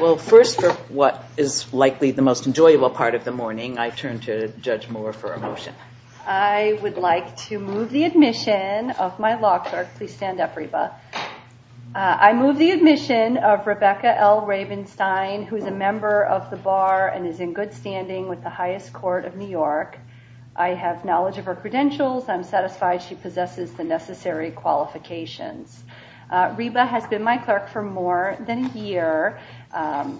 Well, first, for what is likely the most enjoyable part of the morning, I turn to Judge Moore for a motion. I would like to move the admission of my law clerk. Please stand up, Reba. I move the admission of Rebecca L. Ravenstein, who is a member of the bar and is in good standing with the highest court of New York. I have knowledge of her credentials. I'm satisfied she possesses the necessary qualifications. Reba has been my clerk for more than a year.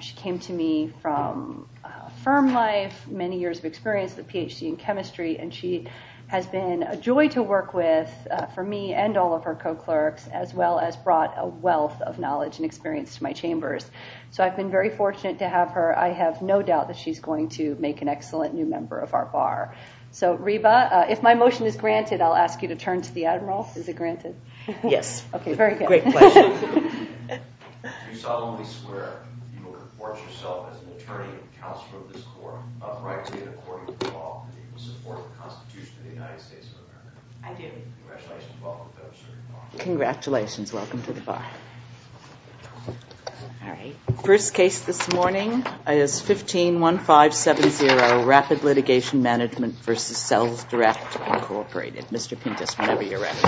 She came to me from a firm life, many years of experience, a PhD in chemistry, and she has been a joy to work with for me and all of her co-clerks, as well as brought a wealth of knowledge and experience to my chambers. So I've been very fortunate to have her. I have no doubt that she's going to make an excellent new member of our bar. So, Reba, if my motion is granted, I'll ask you to turn to the Admiral. Is it granted? Yes. OK, very good. Great question. If you solemnly swear, you will report yourself as an attorney and counsel of this court, uprightly and according to the law, that you will support the Constitution of the United States of America. I do. Congratulations. Welcome to the bar. Congratulations. Welcome to the bar. All right. First case this morning is 15-1570, Rapid Litigation Management v. Sells Direct, Incorporated. Mr. Pintus, whenever you're ready.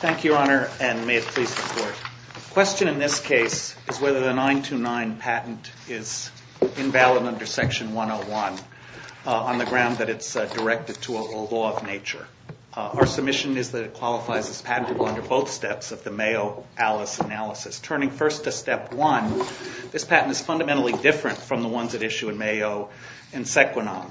Thank you, Your Honor, and may it please the Court. The question in this case is whether the 929 patent is invalid under Section 101 on the ground that it's directed to a law of nature. Our submission is that it qualifies as patentable under both steps of the Mayo Alice analysis. Turning first to Step 1, this patent is fundamentally different from the ones at issue in Mayo and Sequinon.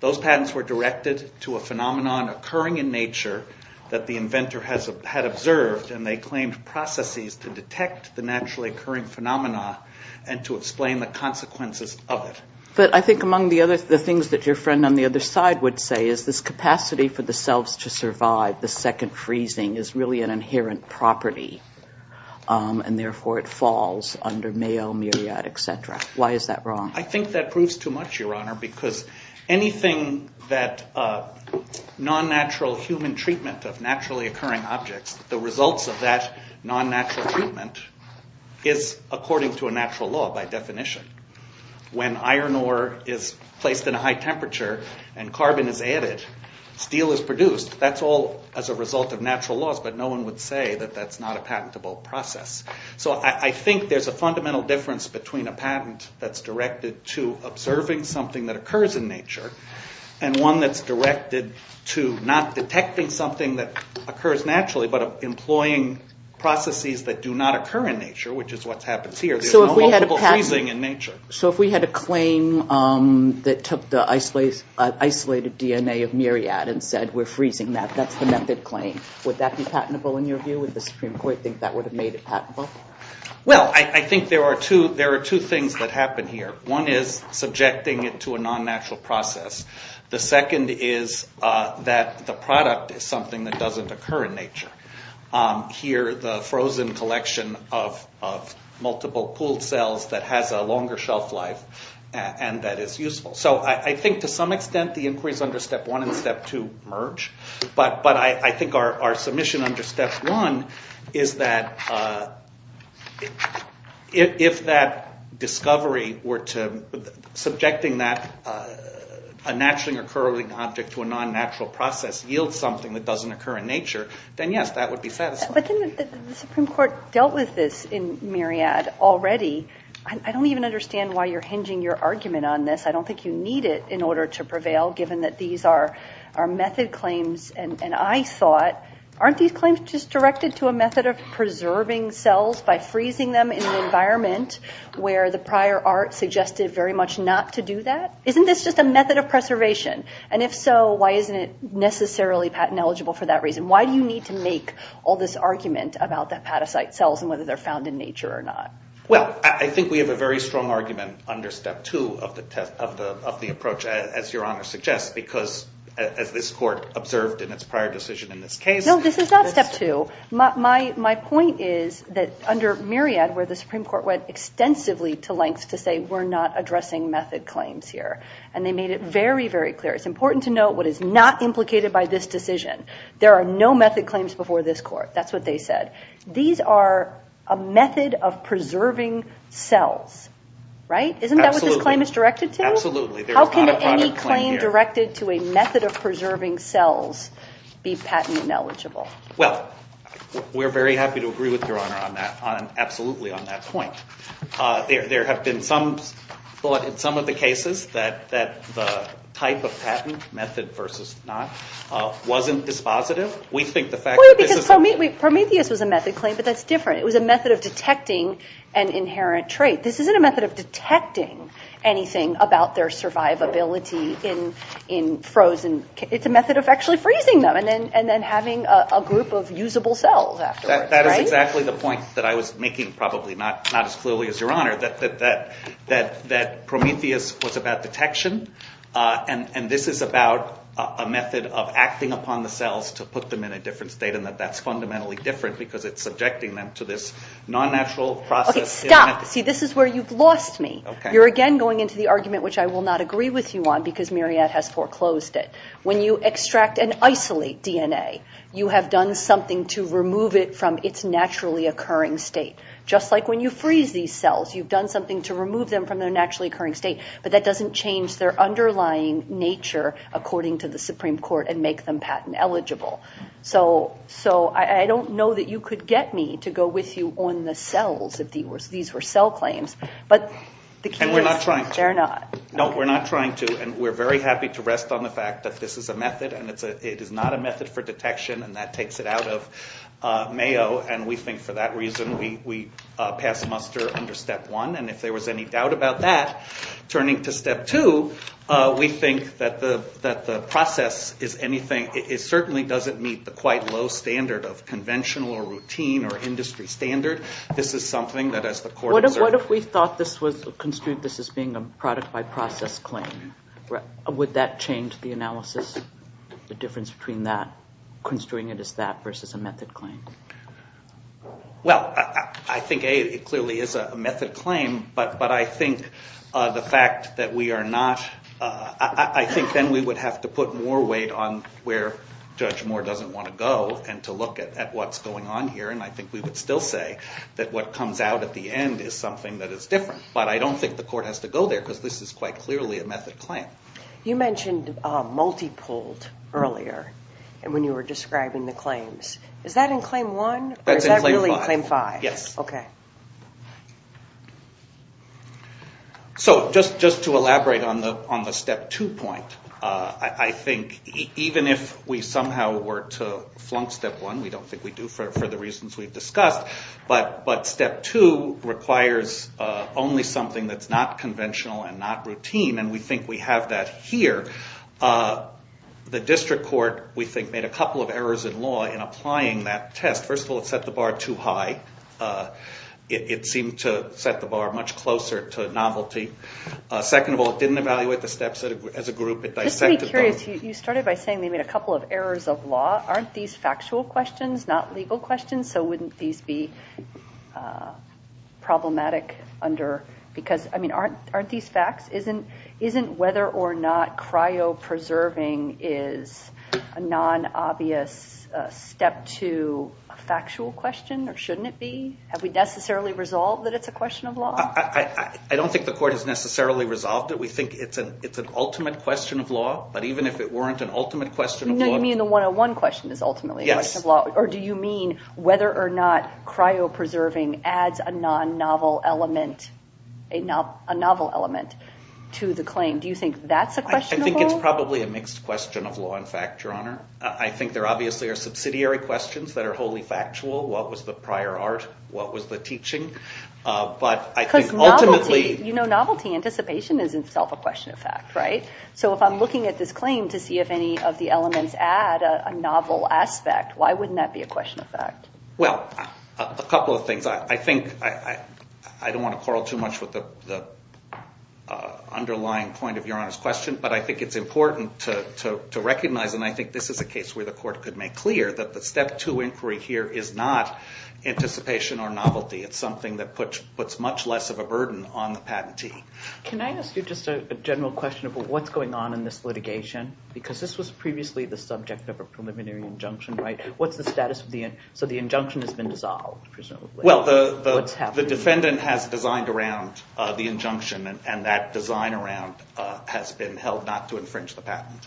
Those patents were directed to a phenomenon occurring in nature that the inventor had observed, and they claimed processes to detect the naturally occurring phenomena and to explain the consequences of it. But I think among the things that your friend on the other side would say is this capacity for the cells to survive the second freezing is really an inherent property, and therefore it falls under Mayo, Myriad, et cetera. Why is that wrong? I think that proves too much, Your Honor, because anything that non-natural human treatment of naturally occurring objects, the results of that non-natural treatment is according to a natural law by definition. When iron ore is placed in a high temperature and carbon is added, steel is produced. That's all as a result of natural laws, but no one would say that that's not a patentable process. So I think there's a fundamental difference between a patent that's directed to observing something that occurs in nature and one that's directed to not detecting something that occurs naturally but employing processes that do not occur in nature, which is what happens here. There's no multiple freezing in nature. So if we had a claim that took the isolated DNA of Myriad and said we're freezing that, that's the method claim, would that be patentable in your view? Would the Supreme Court think that would have made it patentable? Well, I think there are two things that happen here. One is subjecting it to a non-natural process. The second is that the product is something that doesn't occur in nature. Here, the frozen collection of multiple pooled cells that has a longer shelf life and that is useful. So I think to some extent the inquiries under Step 1 and Step 2 merge, but I think our submission under Step 1 is that if that discovery or subjecting that naturally occurring object to a non-natural process yields something that doesn't occur in nature, then yes, that would be satisfied. But the Supreme Court dealt with this in Myriad already. I don't even understand why you're hinging your argument on this. I don't think you need it in order to prevail given that these are method claims. And I thought, aren't these claims just directed to a method of preserving cells by freezing them in an environment where the prior art suggested very much not to do that? Isn't this just a method of preservation? And if so, why isn't it necessarily patent eligible for that reason? Why do you need to make all this argument about the hepatocyte cells and whether they're found in nature or not? Well, I think we have a very strong argument under Step 2 of the approach, as Your Honor suggests, because as this Court observed in its prior decision in this case. No, this is not Step 2. My point is that under Myriad where the Supreme Court went extensively to lengths to say we're not addressing method claims here. And they made it very, very clear. It's important to note what is not implicated by this decision. There are no method claims before this Court. That's what they said. These are a method of preserving cells, right? Absolutely. Isn't that what this claim is directed to? Absolutely. How can any claim directed to a method of preserving cells be patent ineligible? Well, we're very happy to agree with Your Honor on that, absolutely on that point. There have been some thought in some of the cases that the type of patent, method versus not, wasn't dispositive. Well, because Prometheus was a method claim, but that's different. It was a method of detecting an inherent trait. This isn't a method of detecting anything about their survivability in frozen. It's a method of actually freezing them and then having a group of usable cells afterwards. That is exactly the point that I was making, probably not as clearly as Your Honor, that Prometheus was about detection. And this is about a method of acting upon the cells to put them in a different state and that that's fundamentally different because it's subjecting them to this non-natural process. Okay, stop. See, this is where you've lost me. You're again going into the argument which I will not agree with you on because Myriad has foreclosed it. When you extract and isolate DNA, you have done something to remove it from its naturally occurring state. Just like when you freeze these cells, you've done something to remove them from their naturally occurring state, but that doesn't change their underlying nature according to the Supreme Court and make them patent eligible. So I don't know that you could get me to go with you on the cells if these were cell claims. And we're not trying to. They're not. No, we're not trying to. And we're very happy to rest on the fact that this is a method and it is not a method for detection and that takes it out of Mayo. And we think for that reason, we pass muster under step one. And if there was any doubt about that, turning to step two, we think that the process is anything, it certainly doesn't meet the quite low standard of conventional or routine or industry standard. This is something that as the court observed. What if we thought this was construed as being a product by process claim? Would that change the analysis, the difference between that, construing it as that versus a method claim? Well, I think it clearly is a method claim, but I think the fact that we are not, I think then we would have to put more weight on where Judge Moore doesn't want to go and to look at what's going on here. And I think we would still say that what comes out at the end is something that is different. But I don't think the court has to go there because this is quite clearly a method claim. You mentioned multi-pulled earlier and when you were describing the claims. Is that in claim one or is that really in claim five? Yes. Okay. So just to elaborate on the step two point, I think even if we somehow were to flunk step one, we don't think we do for the reasons we've discussed. But step two requires only something that's not conventional and not routine and we think we have that here. The district court, we think, made a couple of errors in law in applying that test. First of all, it set the bar too high. It seemed to set the bar much closer to novelty. Second of all, it didn't evaluate the steps as a group. It dissected them. Just to be curious, you started by saying they made a couple of errors of law. Aren't these factual questions, not legal questions? So wouldn't these be problematic under... Aren't these facts? Isn't whether or not cryo-preserving is a non-obvious step to a factual question or shouldn't it be? Have we necessarily resolved that it's a question of law? I don't think the court has necessarily resolved it. We think it's an ultimate question of law. But even if it weren't an ultimate question of law... So you mean the 101 question is ultimately a question of law? Yes. Or do you mean whether or not cryo-preserving adds a non-novel element to the claim? Do you think that's a question of law? I think it's probably a mixed question of law and fact, Your Honor. I think there obviously are subsidiary questions that are wholly factual. What was the prior art? What was the teaching? But I think ultimately... Because novelty, you know novelty, anticipation is itself a question of fact, right? So if I'm looking at this claim to see if any of the elements add a novel aspect, why wouldn't that be a question of fact? Well, a couple of things. I don't want to quarrel too much with the underlying point of Your Honor's question, but I think it's important to recognize, and I think this is a case where the court could make clear, that the step two inquiry here is not anticipation or novelty. It's something that puts much less of a burden on the patentee. Can I ask you just a general question about what's going on in this litigation? Because this was previously the subject of a preliminary injunction, right? What's the status of the... So the injunction has been dissolved, presumably. Well, the defendant has designed around the injunction, and that design around has been held not to infringe the patent.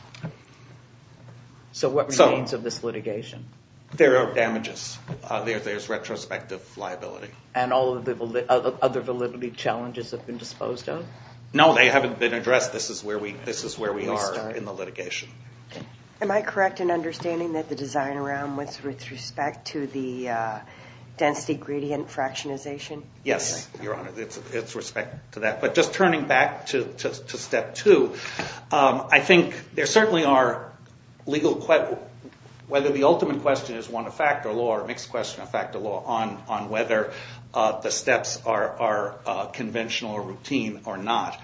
So what remains of this litigation? There are damages. There's retrospective liability. And all of the other validity challenges have been disposed of? No, they haven't been addressed. This is where we are in the litigation. Am I correct in understanding that the design around was with respect to the density gradient fractionization? Yes, Your Honor, it's with respect to that. But just turning back to step two, I think there certainly are legal questions, whether the ultimate question is one of fact or law, or mixed question of fact or law, on whether the steps are conventional or routine or not.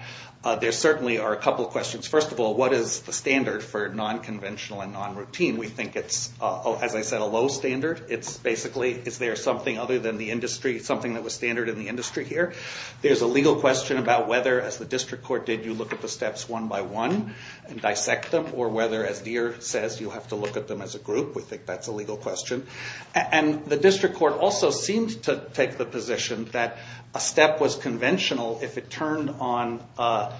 There certainly are a couple of questions. First of all, what is the standard for non-conventional and non-routine? We think it's, as I said, a low standard. It's basically, is there something other than the industry, something that was standard in the industry here? There's a legal question about whether, as the district court did, you look at the steps one by one and dissect them, or whether, as Deere says, you have to look at them as a group. We think that's a legal question. And the district court also seemed to take the position that a step was conventional if it turned on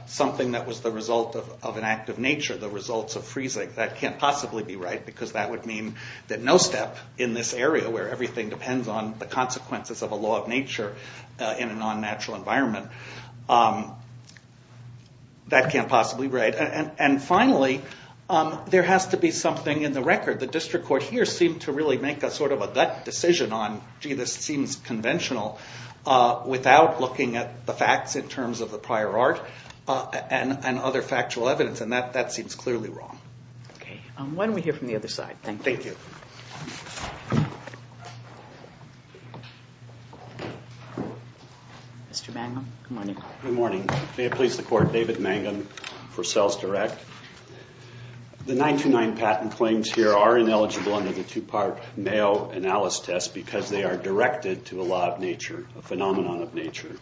something that was the result of an act of nature, the results of freezing. That can't possibly be right, because that would mean that no step in this area, where everything depends on the consequences of a law of nature in a non-natural environment, that can't possibly be right. And finally, there has to be something in the record. The district court here seemed to really make a sort of a decision on, gee, this seems conventional, without looking at the facts in terms of the prior art and other factual evidence. And that seems clearly wrong. Okay. Why don't we hear from the other side? Thank you. Thank you. Mr. Mangum, good morning. Good morning. May it please the Court, David Mangum for SalesDirect. The 929 patent claims here are ineligible under the two-part Mayo analysis test because they are directed to a law of nature, a phenomenon of nature,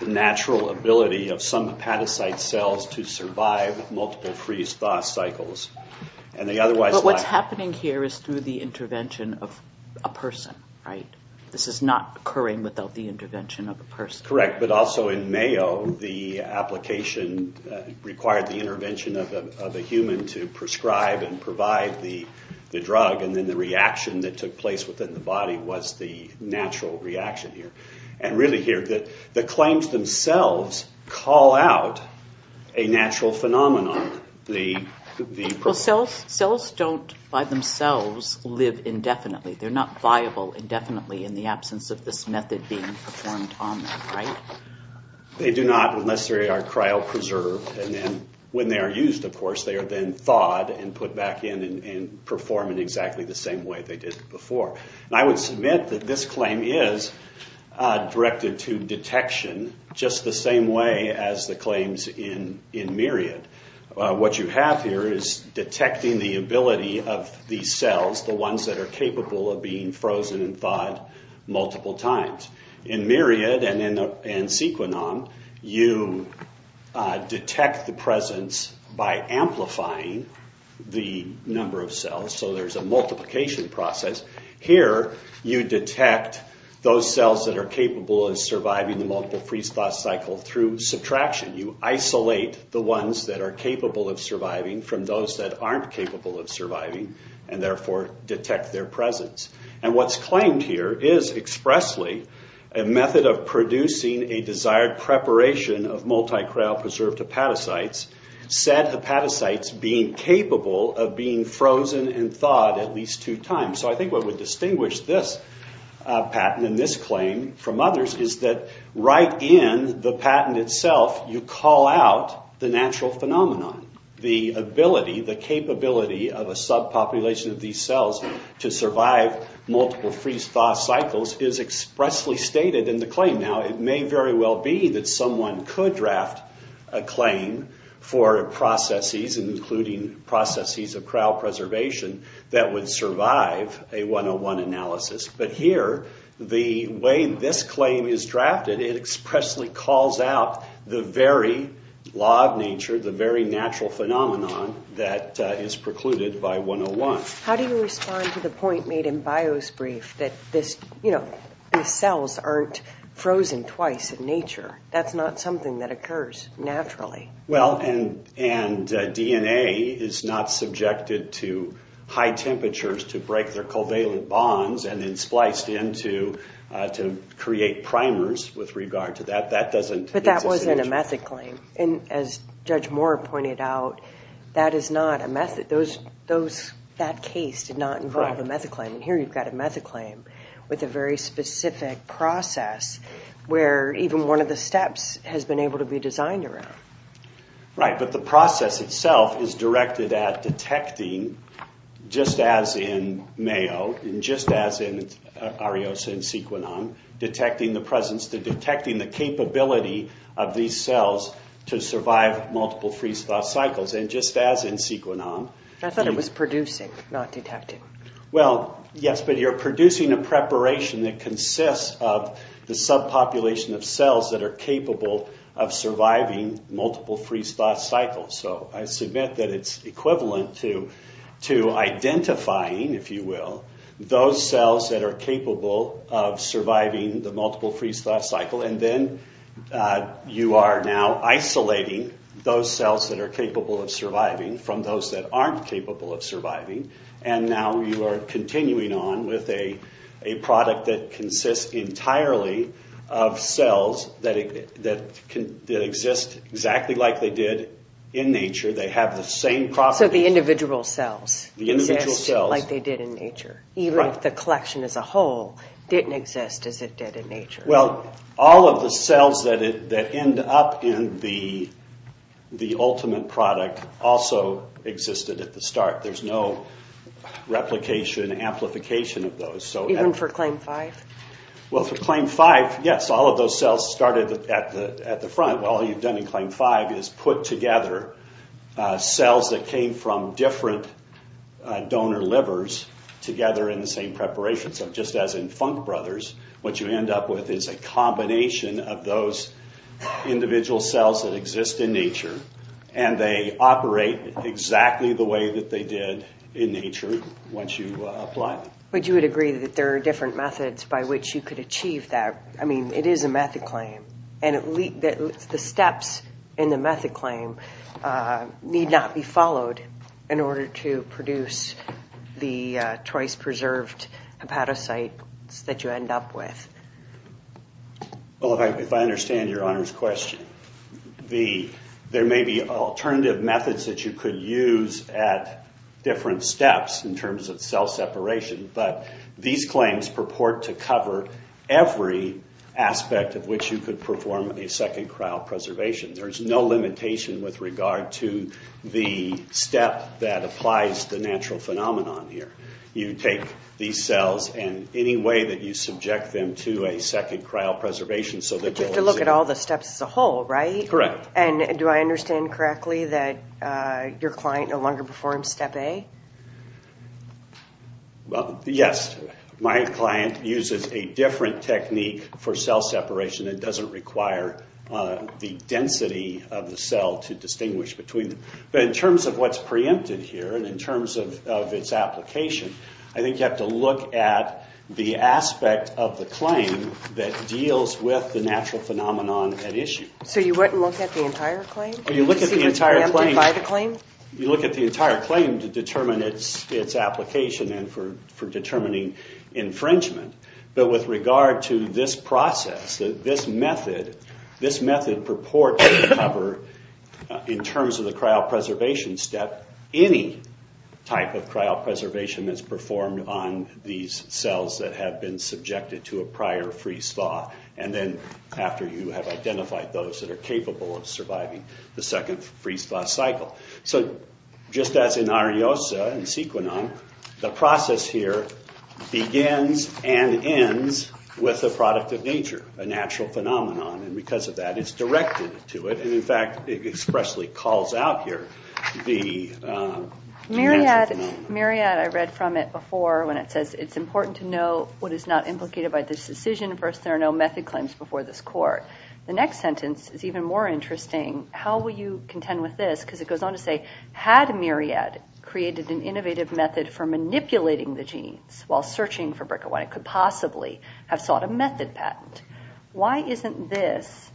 the natural ability of some hepatocyte cells to survive multiple freeze-thaw cycles. But what's happening here is through the intervention of a person, right? Correct. But also in Mayo, the application required the intervention of a human to prescribe and provide the drug, and then the reaction that took place within the body was the natural reaction here. And really here, the claims themselves call out a natural phenomenon. Cells don't, by themselves, live indefinitely. They're not viable indefinitely in the absence of this method being performed on them, right? They do not necessarily are cryopreserved, and then when they are used, of course, they are then thawed and put back in and perform in exactly the same way they did before. And I would submit that this claim is directed to detection just the same way as the claims in Myriad. What you have here is detecting the ability of these cells, the ones that are capable of being frozen and thawed multiple times. In Myriad and in Sequinon, you detect the presence by amplifying the number of cells, so there's a multiplication process. Here, you detect those cells that are capable of surviving the multiple freeze-thaw cycle through subtraction. You isolate the ones that are capable of surviving from those that aren't capable of surviving, and therefore detect their presence. And what's claimed here is expressly a method of producing a desired preparation of multi-cryopreserved hepatocytes, said hepatocytes being capable of being frozen and thawed at least two times. So I think what would distinguish this patent and this claim from others is that right in the patent itself, you call out the natural phenomenon, the ability, the capability of a subpopulation of these cells to survive multiple freeze-thaw cycles is expressly stated in the claim. Now, it may very well be that someone could draft a claim for processes, including processes of cryopreservation, that would survive a 101 analysis. But here, the way this claim is drafted, it expressly calls out the very law of nature, the very natural phenomenon that is precluded by 101. How do you respond to the point made in Bio's brief that these cells aren't frozen twice in nature? That's not something that occurs naturally. Well, and DNA is not subjected to high temperatures to break their covalent bonds and then spliced in to create primers with regard to that. But that wasn't a method claim. And as Judge Moore pointed out, that is not a method. That case did not involve a method claim. And here, you've got a method claim with a very specific process where even one of the steps has been able to be designed around. Right. But the process itself is directed at detecting, just as in Mayo and just as in Ariosa and Sequenom, detecting the presence, detecting the capability of these cells to survive multiple freeze-thaw cycles. And just as in Sequenom... I thought it was producing, not detecting. Well, yes, but you're producing a preparation that consists of the subpopulation of cells that are capable of surviving multiple freeze-thaw cycles. So I submit that it's equivalent to identifying, if you will, those cells that are capable of surviving the multiple freeze-thaw cycle. And then you are now isolating those cells that are capable of surviving from those that aren't capable of surviving. And now you are continuing on with a product that consists entirely of cells that exist exactly like they did in nature. They have the same properties. So the individual cells exist like they did in nature, even if the collection as a whole didn't exist as it did in nature. Well, all of the cells that end up in the ultimate product also existed at the start. There's no replication, amplification of those. Even for CLAIM-5? Well, for CLAIM-5, yes, all of those cells started at the front. All you've done in CLAIM-5 is put together cells that came from different donor livers together in the same preparation. So just as in Funk Brothers, what you end up with is a combination of those individual cells that exist in nature. And they operate exactly the way that they did in nature once you apply them. But you would agree that there are different methods by which you could achieve that? I mean, it is a methaclaim. And the steps in the methaclaim need not be followed in order to produce the twice-preserved hepatocytes that you end up with. Well, if I understand Your Honor's question, there may be alternative methods that you could use at different steps in terms of cell separation, but these claims purport to cover every aspect of which you could perform a second-trial preservation. There's no limitation with regard to the step that applies the natural phenomenon here. You take these cells, and any way that you subject them to a second-trial preservation... But you have to look at all the steps as a whole, right? Correct. And do I understand correctly that your client no longer performs Step A? Well, yes. My client uses a different technique for cell separation and doesn't require the density of the cell to distinguish between them. But in terms of what's preempted here and in terms of its application, I think you have to look at the aspect of the claim that deals with the natural phenomenon at issue. So you wouldn't look at the entire claim? You look at the entire claim... To see what's preempted by the claim? You look at the entire claim to determine its application and for determining infringement. But with regard to this process, this method, this method purport to cover, in terms of the trial preservation step, any type of trial preservation that's performed on these cells that have been subjected to a prior freeze-thaw, and then after you have identified those that are capable of surviving the second freeze-thaw cycle. So just as in Ariosa and Sequinon, the process here begins and ends with a product of nature, a natural phenomenon. And because of that, it's directed to it. And in fact, it expressly calls out here the natural phenomenon. Myriad, I read from it before when it says, it's important to know what is not implicated by this decision versus there are no method claims before this court. The next sentence is even more interesting. How will you contend with this? Because it goes on to say, had Myriad created an innovative method for manipulating the genes while searching for BRCA1, it could possibly have sought a method patent. Why isn't this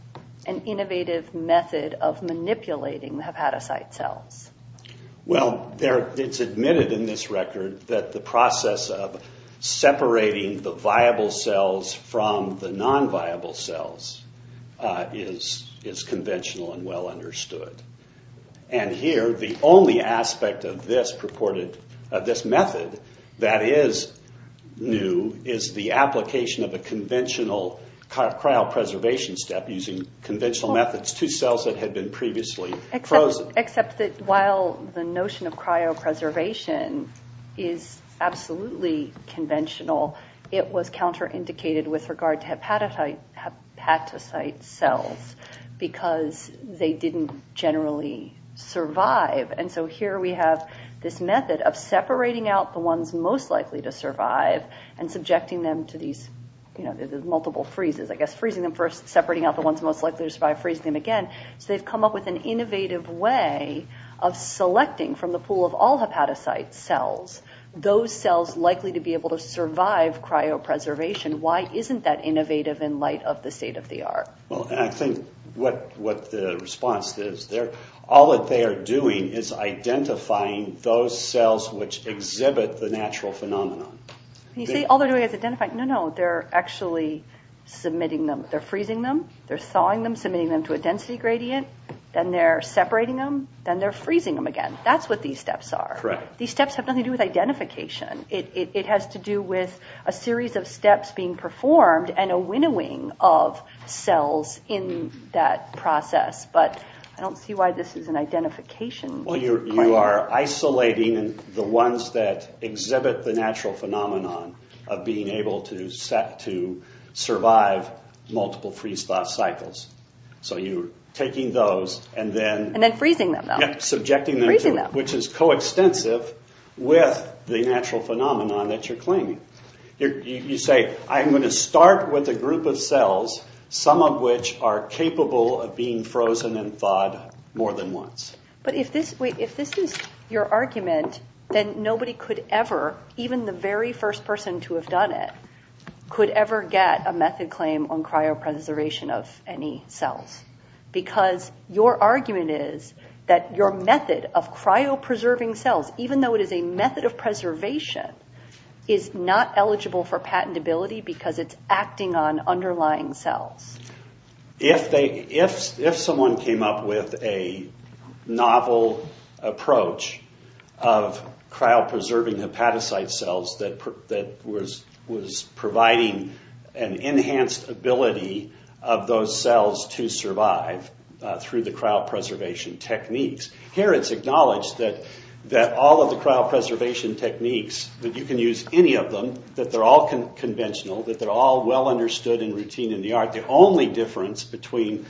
an innovative method of manipulating the hepatocyte cells? Well, it's admitted in this record that the process of separating the viable cells from the non-viable cells is conventional and well understood. And here, the only aspect of this method that is new is the application of a conventional cryopreservation step using conventional methods. That's two cells that had been previously frozen. Except that while the notion of cryopreservation is absolutely conventional, it was counter-indicated with regard to hepatocyte cells because they didn't generally survive. And so here we have this method of separating out the ones most likely to survive and subjecting them to these multiple freezes. I guess freezing them first, separating out the ones most likely to survive, freezing them again. So they've come up with an innovative way of selecting from the pool of all hepatocyte cells those cells likely to be able to survive cryopreservation. Why isn't that innovative in light of the state-of-the-art? Well, I think what the response is, all that they are doing is identifying those cells which exhibit the natural phenomenon. You say, all they're doing is identifying. No, no, they're actually submitting them. They're freezing them. They're thawing them, submitting them to a density gradient. Then they're separating them. Then they're freezing them again. That's what these steps are. Correct. These steps have nothing to do with identification. It has to do with a series of steps being performed and a winnowing of cells in that process. But I don't see why this is an identification point. Well, you are isolating the ones that exhibit the natural phenomenon of being able to survive multiple freeze-thaw cycles. So you're taking those and then... And then freezing them, though. Yeah, subjecting them to it, which is coextensive with the natural phenomenon that you're claiming. You say, I'm going to start with a group of cells, some of which are capable of being frozen and thawed more than once. But if this is your argument, then nobody could ever, even the very first person to have done it, could ever get a method claim on cryopreservation of any cells. Because your argument is that your method of cryopreserving cells, even though it is a method of preservation, is not eligible for patentability because it's acting on underlying cells. If someone came up with a novel approach of cryopreserving hepatocyte cells that was providing an enhanced ability of those cells to survive through the cryopreservation techniques, here it's acknowledged that all of the cryopreservation techniques, that you can use any of them, that they're all conventional, that they're all well understood and routine in the art. The only difference between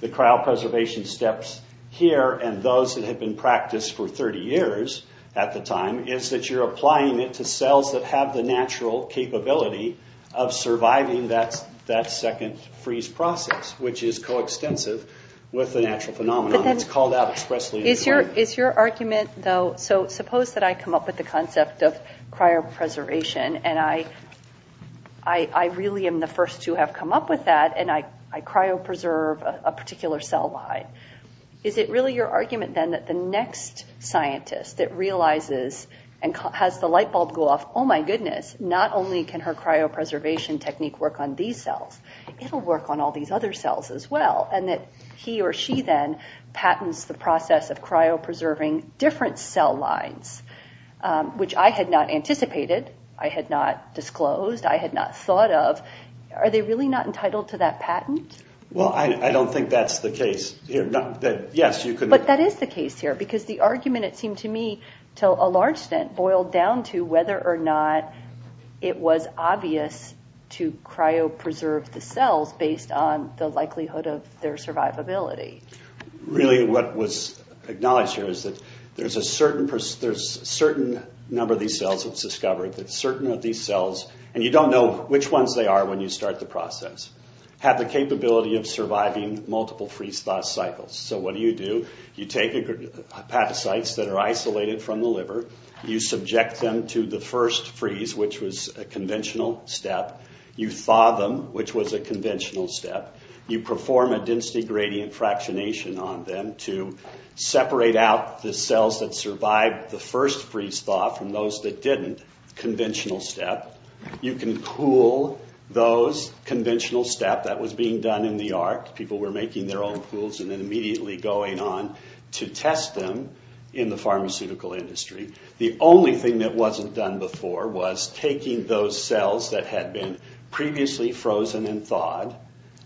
the cryopreservation steps here and those that had been practiced for 30 years at the time is that you're applying it to cells that have the natural capability of surviving that second freeze process, which is coextensive with the natural phenomenon. It's called out expressly. Is your argument, though, so suppose that I come up with the concept of cryopreservation and I really am the first to have come up with that and I cryopreserve a particular cell line. Is it really your argument then that the next scientist that realizes and has the light bulb go off, oh my goodness, not only can her cryopreservation technique work on these cells, it'll work on all these other cells as well, and that he or she then patents the process of cryopreserving different cell lines, which I had not anticipated. I had not disclosed. I had not thought of. Are they really not entitled to that patent? Well, I don't think that's the case here. Yes, you could. But that is the case here because the argument, it seemed to me, to a large extent boiled down to whether or not it was obvious to cryopreserve the cells based on the likelihood of their survivability. Really what was acknowledged here is that there's a certain number of these cells that's discovered that certain of these cells, and you don't know which ones they are when you start the process, have the capability of surviving multiple freeze-thaw cycles. So what do you do? You take hepatocytes that are isolated from the liver. You subject them to the first freeze, which was a conventional step. You thaw them, which was a conventional step. You perform a density gradient fractionation on them to separate out the cells that survived the first freeze-thaw from those that didn't, conventional step. You can cool those, conventional step. That was being done in the arc. People were making their own pools and then immediately going on to test them in the pharmaceutical industry. The only thing that wasn't done before was taking those cells that had been previously frozen and thawed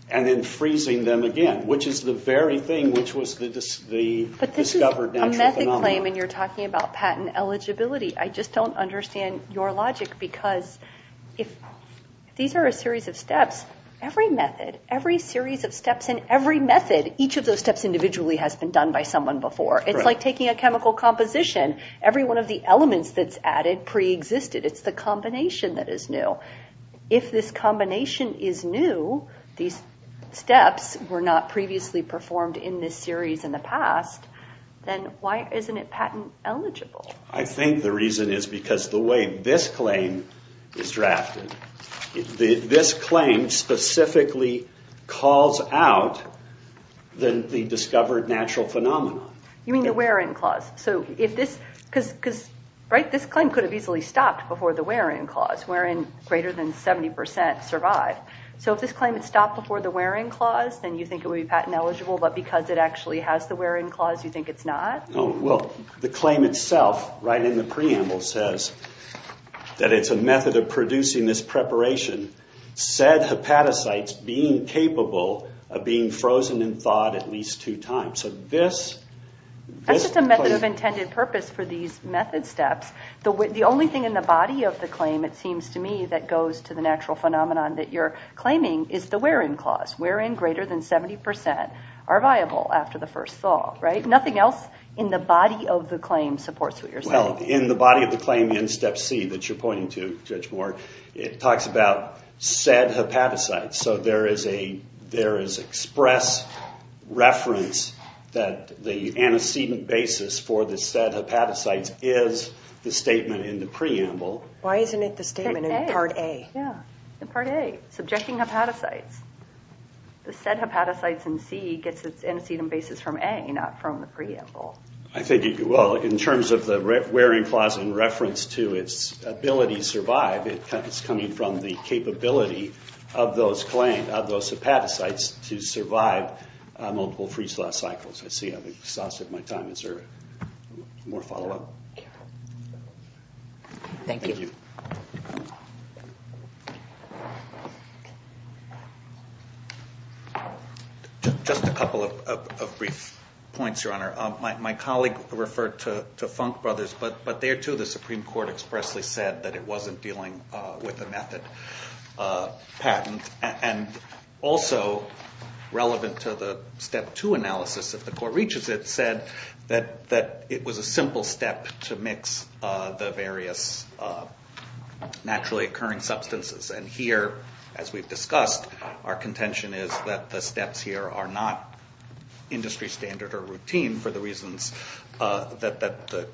and then freezing them again, which is the very thing which was the discovered natural phenomenon. You claim and you're talking about patent eligibility. I just don't understand your logic because if these are a series of steps, every method, every series of steps in every method, each of those steps individually has been done by someone before. It's like taking a chemical composition. Every one of the elements that's added preexisted. It's the combination that is new. If this combination is new, these steps were not previously performed in this series in the past, then why isn't it patent eligible? I think the reason is because the way this claim is drafted, this claim specifically calls out the discovered natural phenomenon. You mean the wear-in clause? This claim could have easily stopped before the wear-in clause, where in greater than 70% survived. If this claim had stopped before the wear-in clause, then you think it would be patent eligible, but because it actually has the wear-in clause, you think it's not? The claim itself, right in the preamble, says that it's a method of producing this preparation, said hepatocytes being capable of being frozen and thawed at least two times. That's just a method of intended purpose for these method steps. The only thing in the body of the claim, it seems to me, that goes to the natural phenomenon that you're claiming is the wear-in clause. Wear-in greater than 70% are viable after the first thaw. Nothing else in the body of the claim supports what you're saying. In the body of the claim in Step C that you're pointing to, Judge Moore, it talks about said hepatocytes. So there is express reference that the antecedent basis for the said hepatocytes is the statement in the preamble. Why isn't it the statement in Part A? In Part A, subjecting hepatocytes. The said hepatocytes in C gets its antecedent basis from A, not from the preamble. In terms of the wear-in clause in reference to its ability to survive, it's coming from the capability of those hepatocytes to survive multiple freeze-thaw cycles. I see I've exhausted my time. Is there more follow-up? Thank you. Just a couple of brief points, Your Honor. My colleague referred to Funk Brothers, but there too the Supreme Court expressly said that it wasn't dealing with a method patent. And also relevant to the Step 2 analysis, if the Court reaches it, said that it was a simple step to mix the various naturally occurring substances and here, as we've discussed, our contention is that the steps here are not industry standard or routine for the reasons that the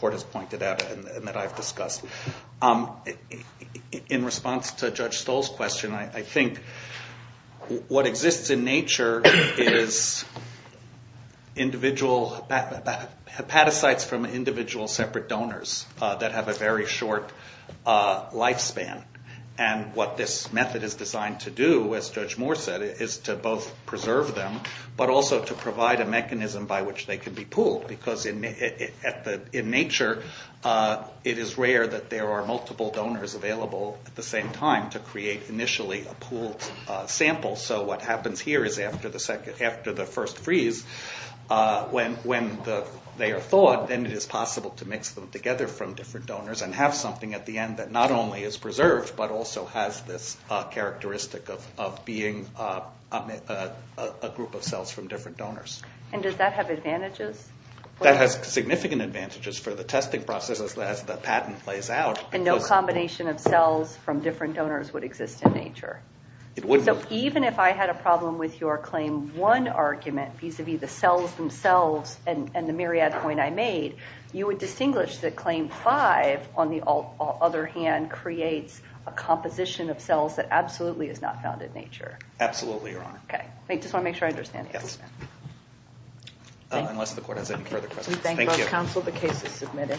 Court has pointed out and that I've discussed. In response to Judge Stoll's question, I think what exists in nature is individual hepatocytes from individual separate donors that have a very short lifespan. And what this method is designed to do, as Judge Moore said, is to both preserve them but also to provide a mechanism by which they can be pooled because in nature it is rare that there are multiple donors available at the same time to create initially a pooled sample. So what happens here is after the first freeze, when they are thawed, then it is possible to mix them together from different donors and have something at the end that not only is preserved but also has this characteristic of being a group of cells from different donors. And does that have advantages? That has significant advantages for the testing process as the patent plays out. And no combination of cells from different donors would exist in nature? It wouldn't. So even if I had a problem with your Claim 1 argument, vis-à-vis the cells themselves and the myriad point I made, you would distinguish that Claim 5, on the other hand, creates a composition of cells that absolutely is not found in nature? Absolutely, Your Honor. Okay. I just want to make sure I understand. Unless the court has any further questions. We thank both counsel. The case is submitted.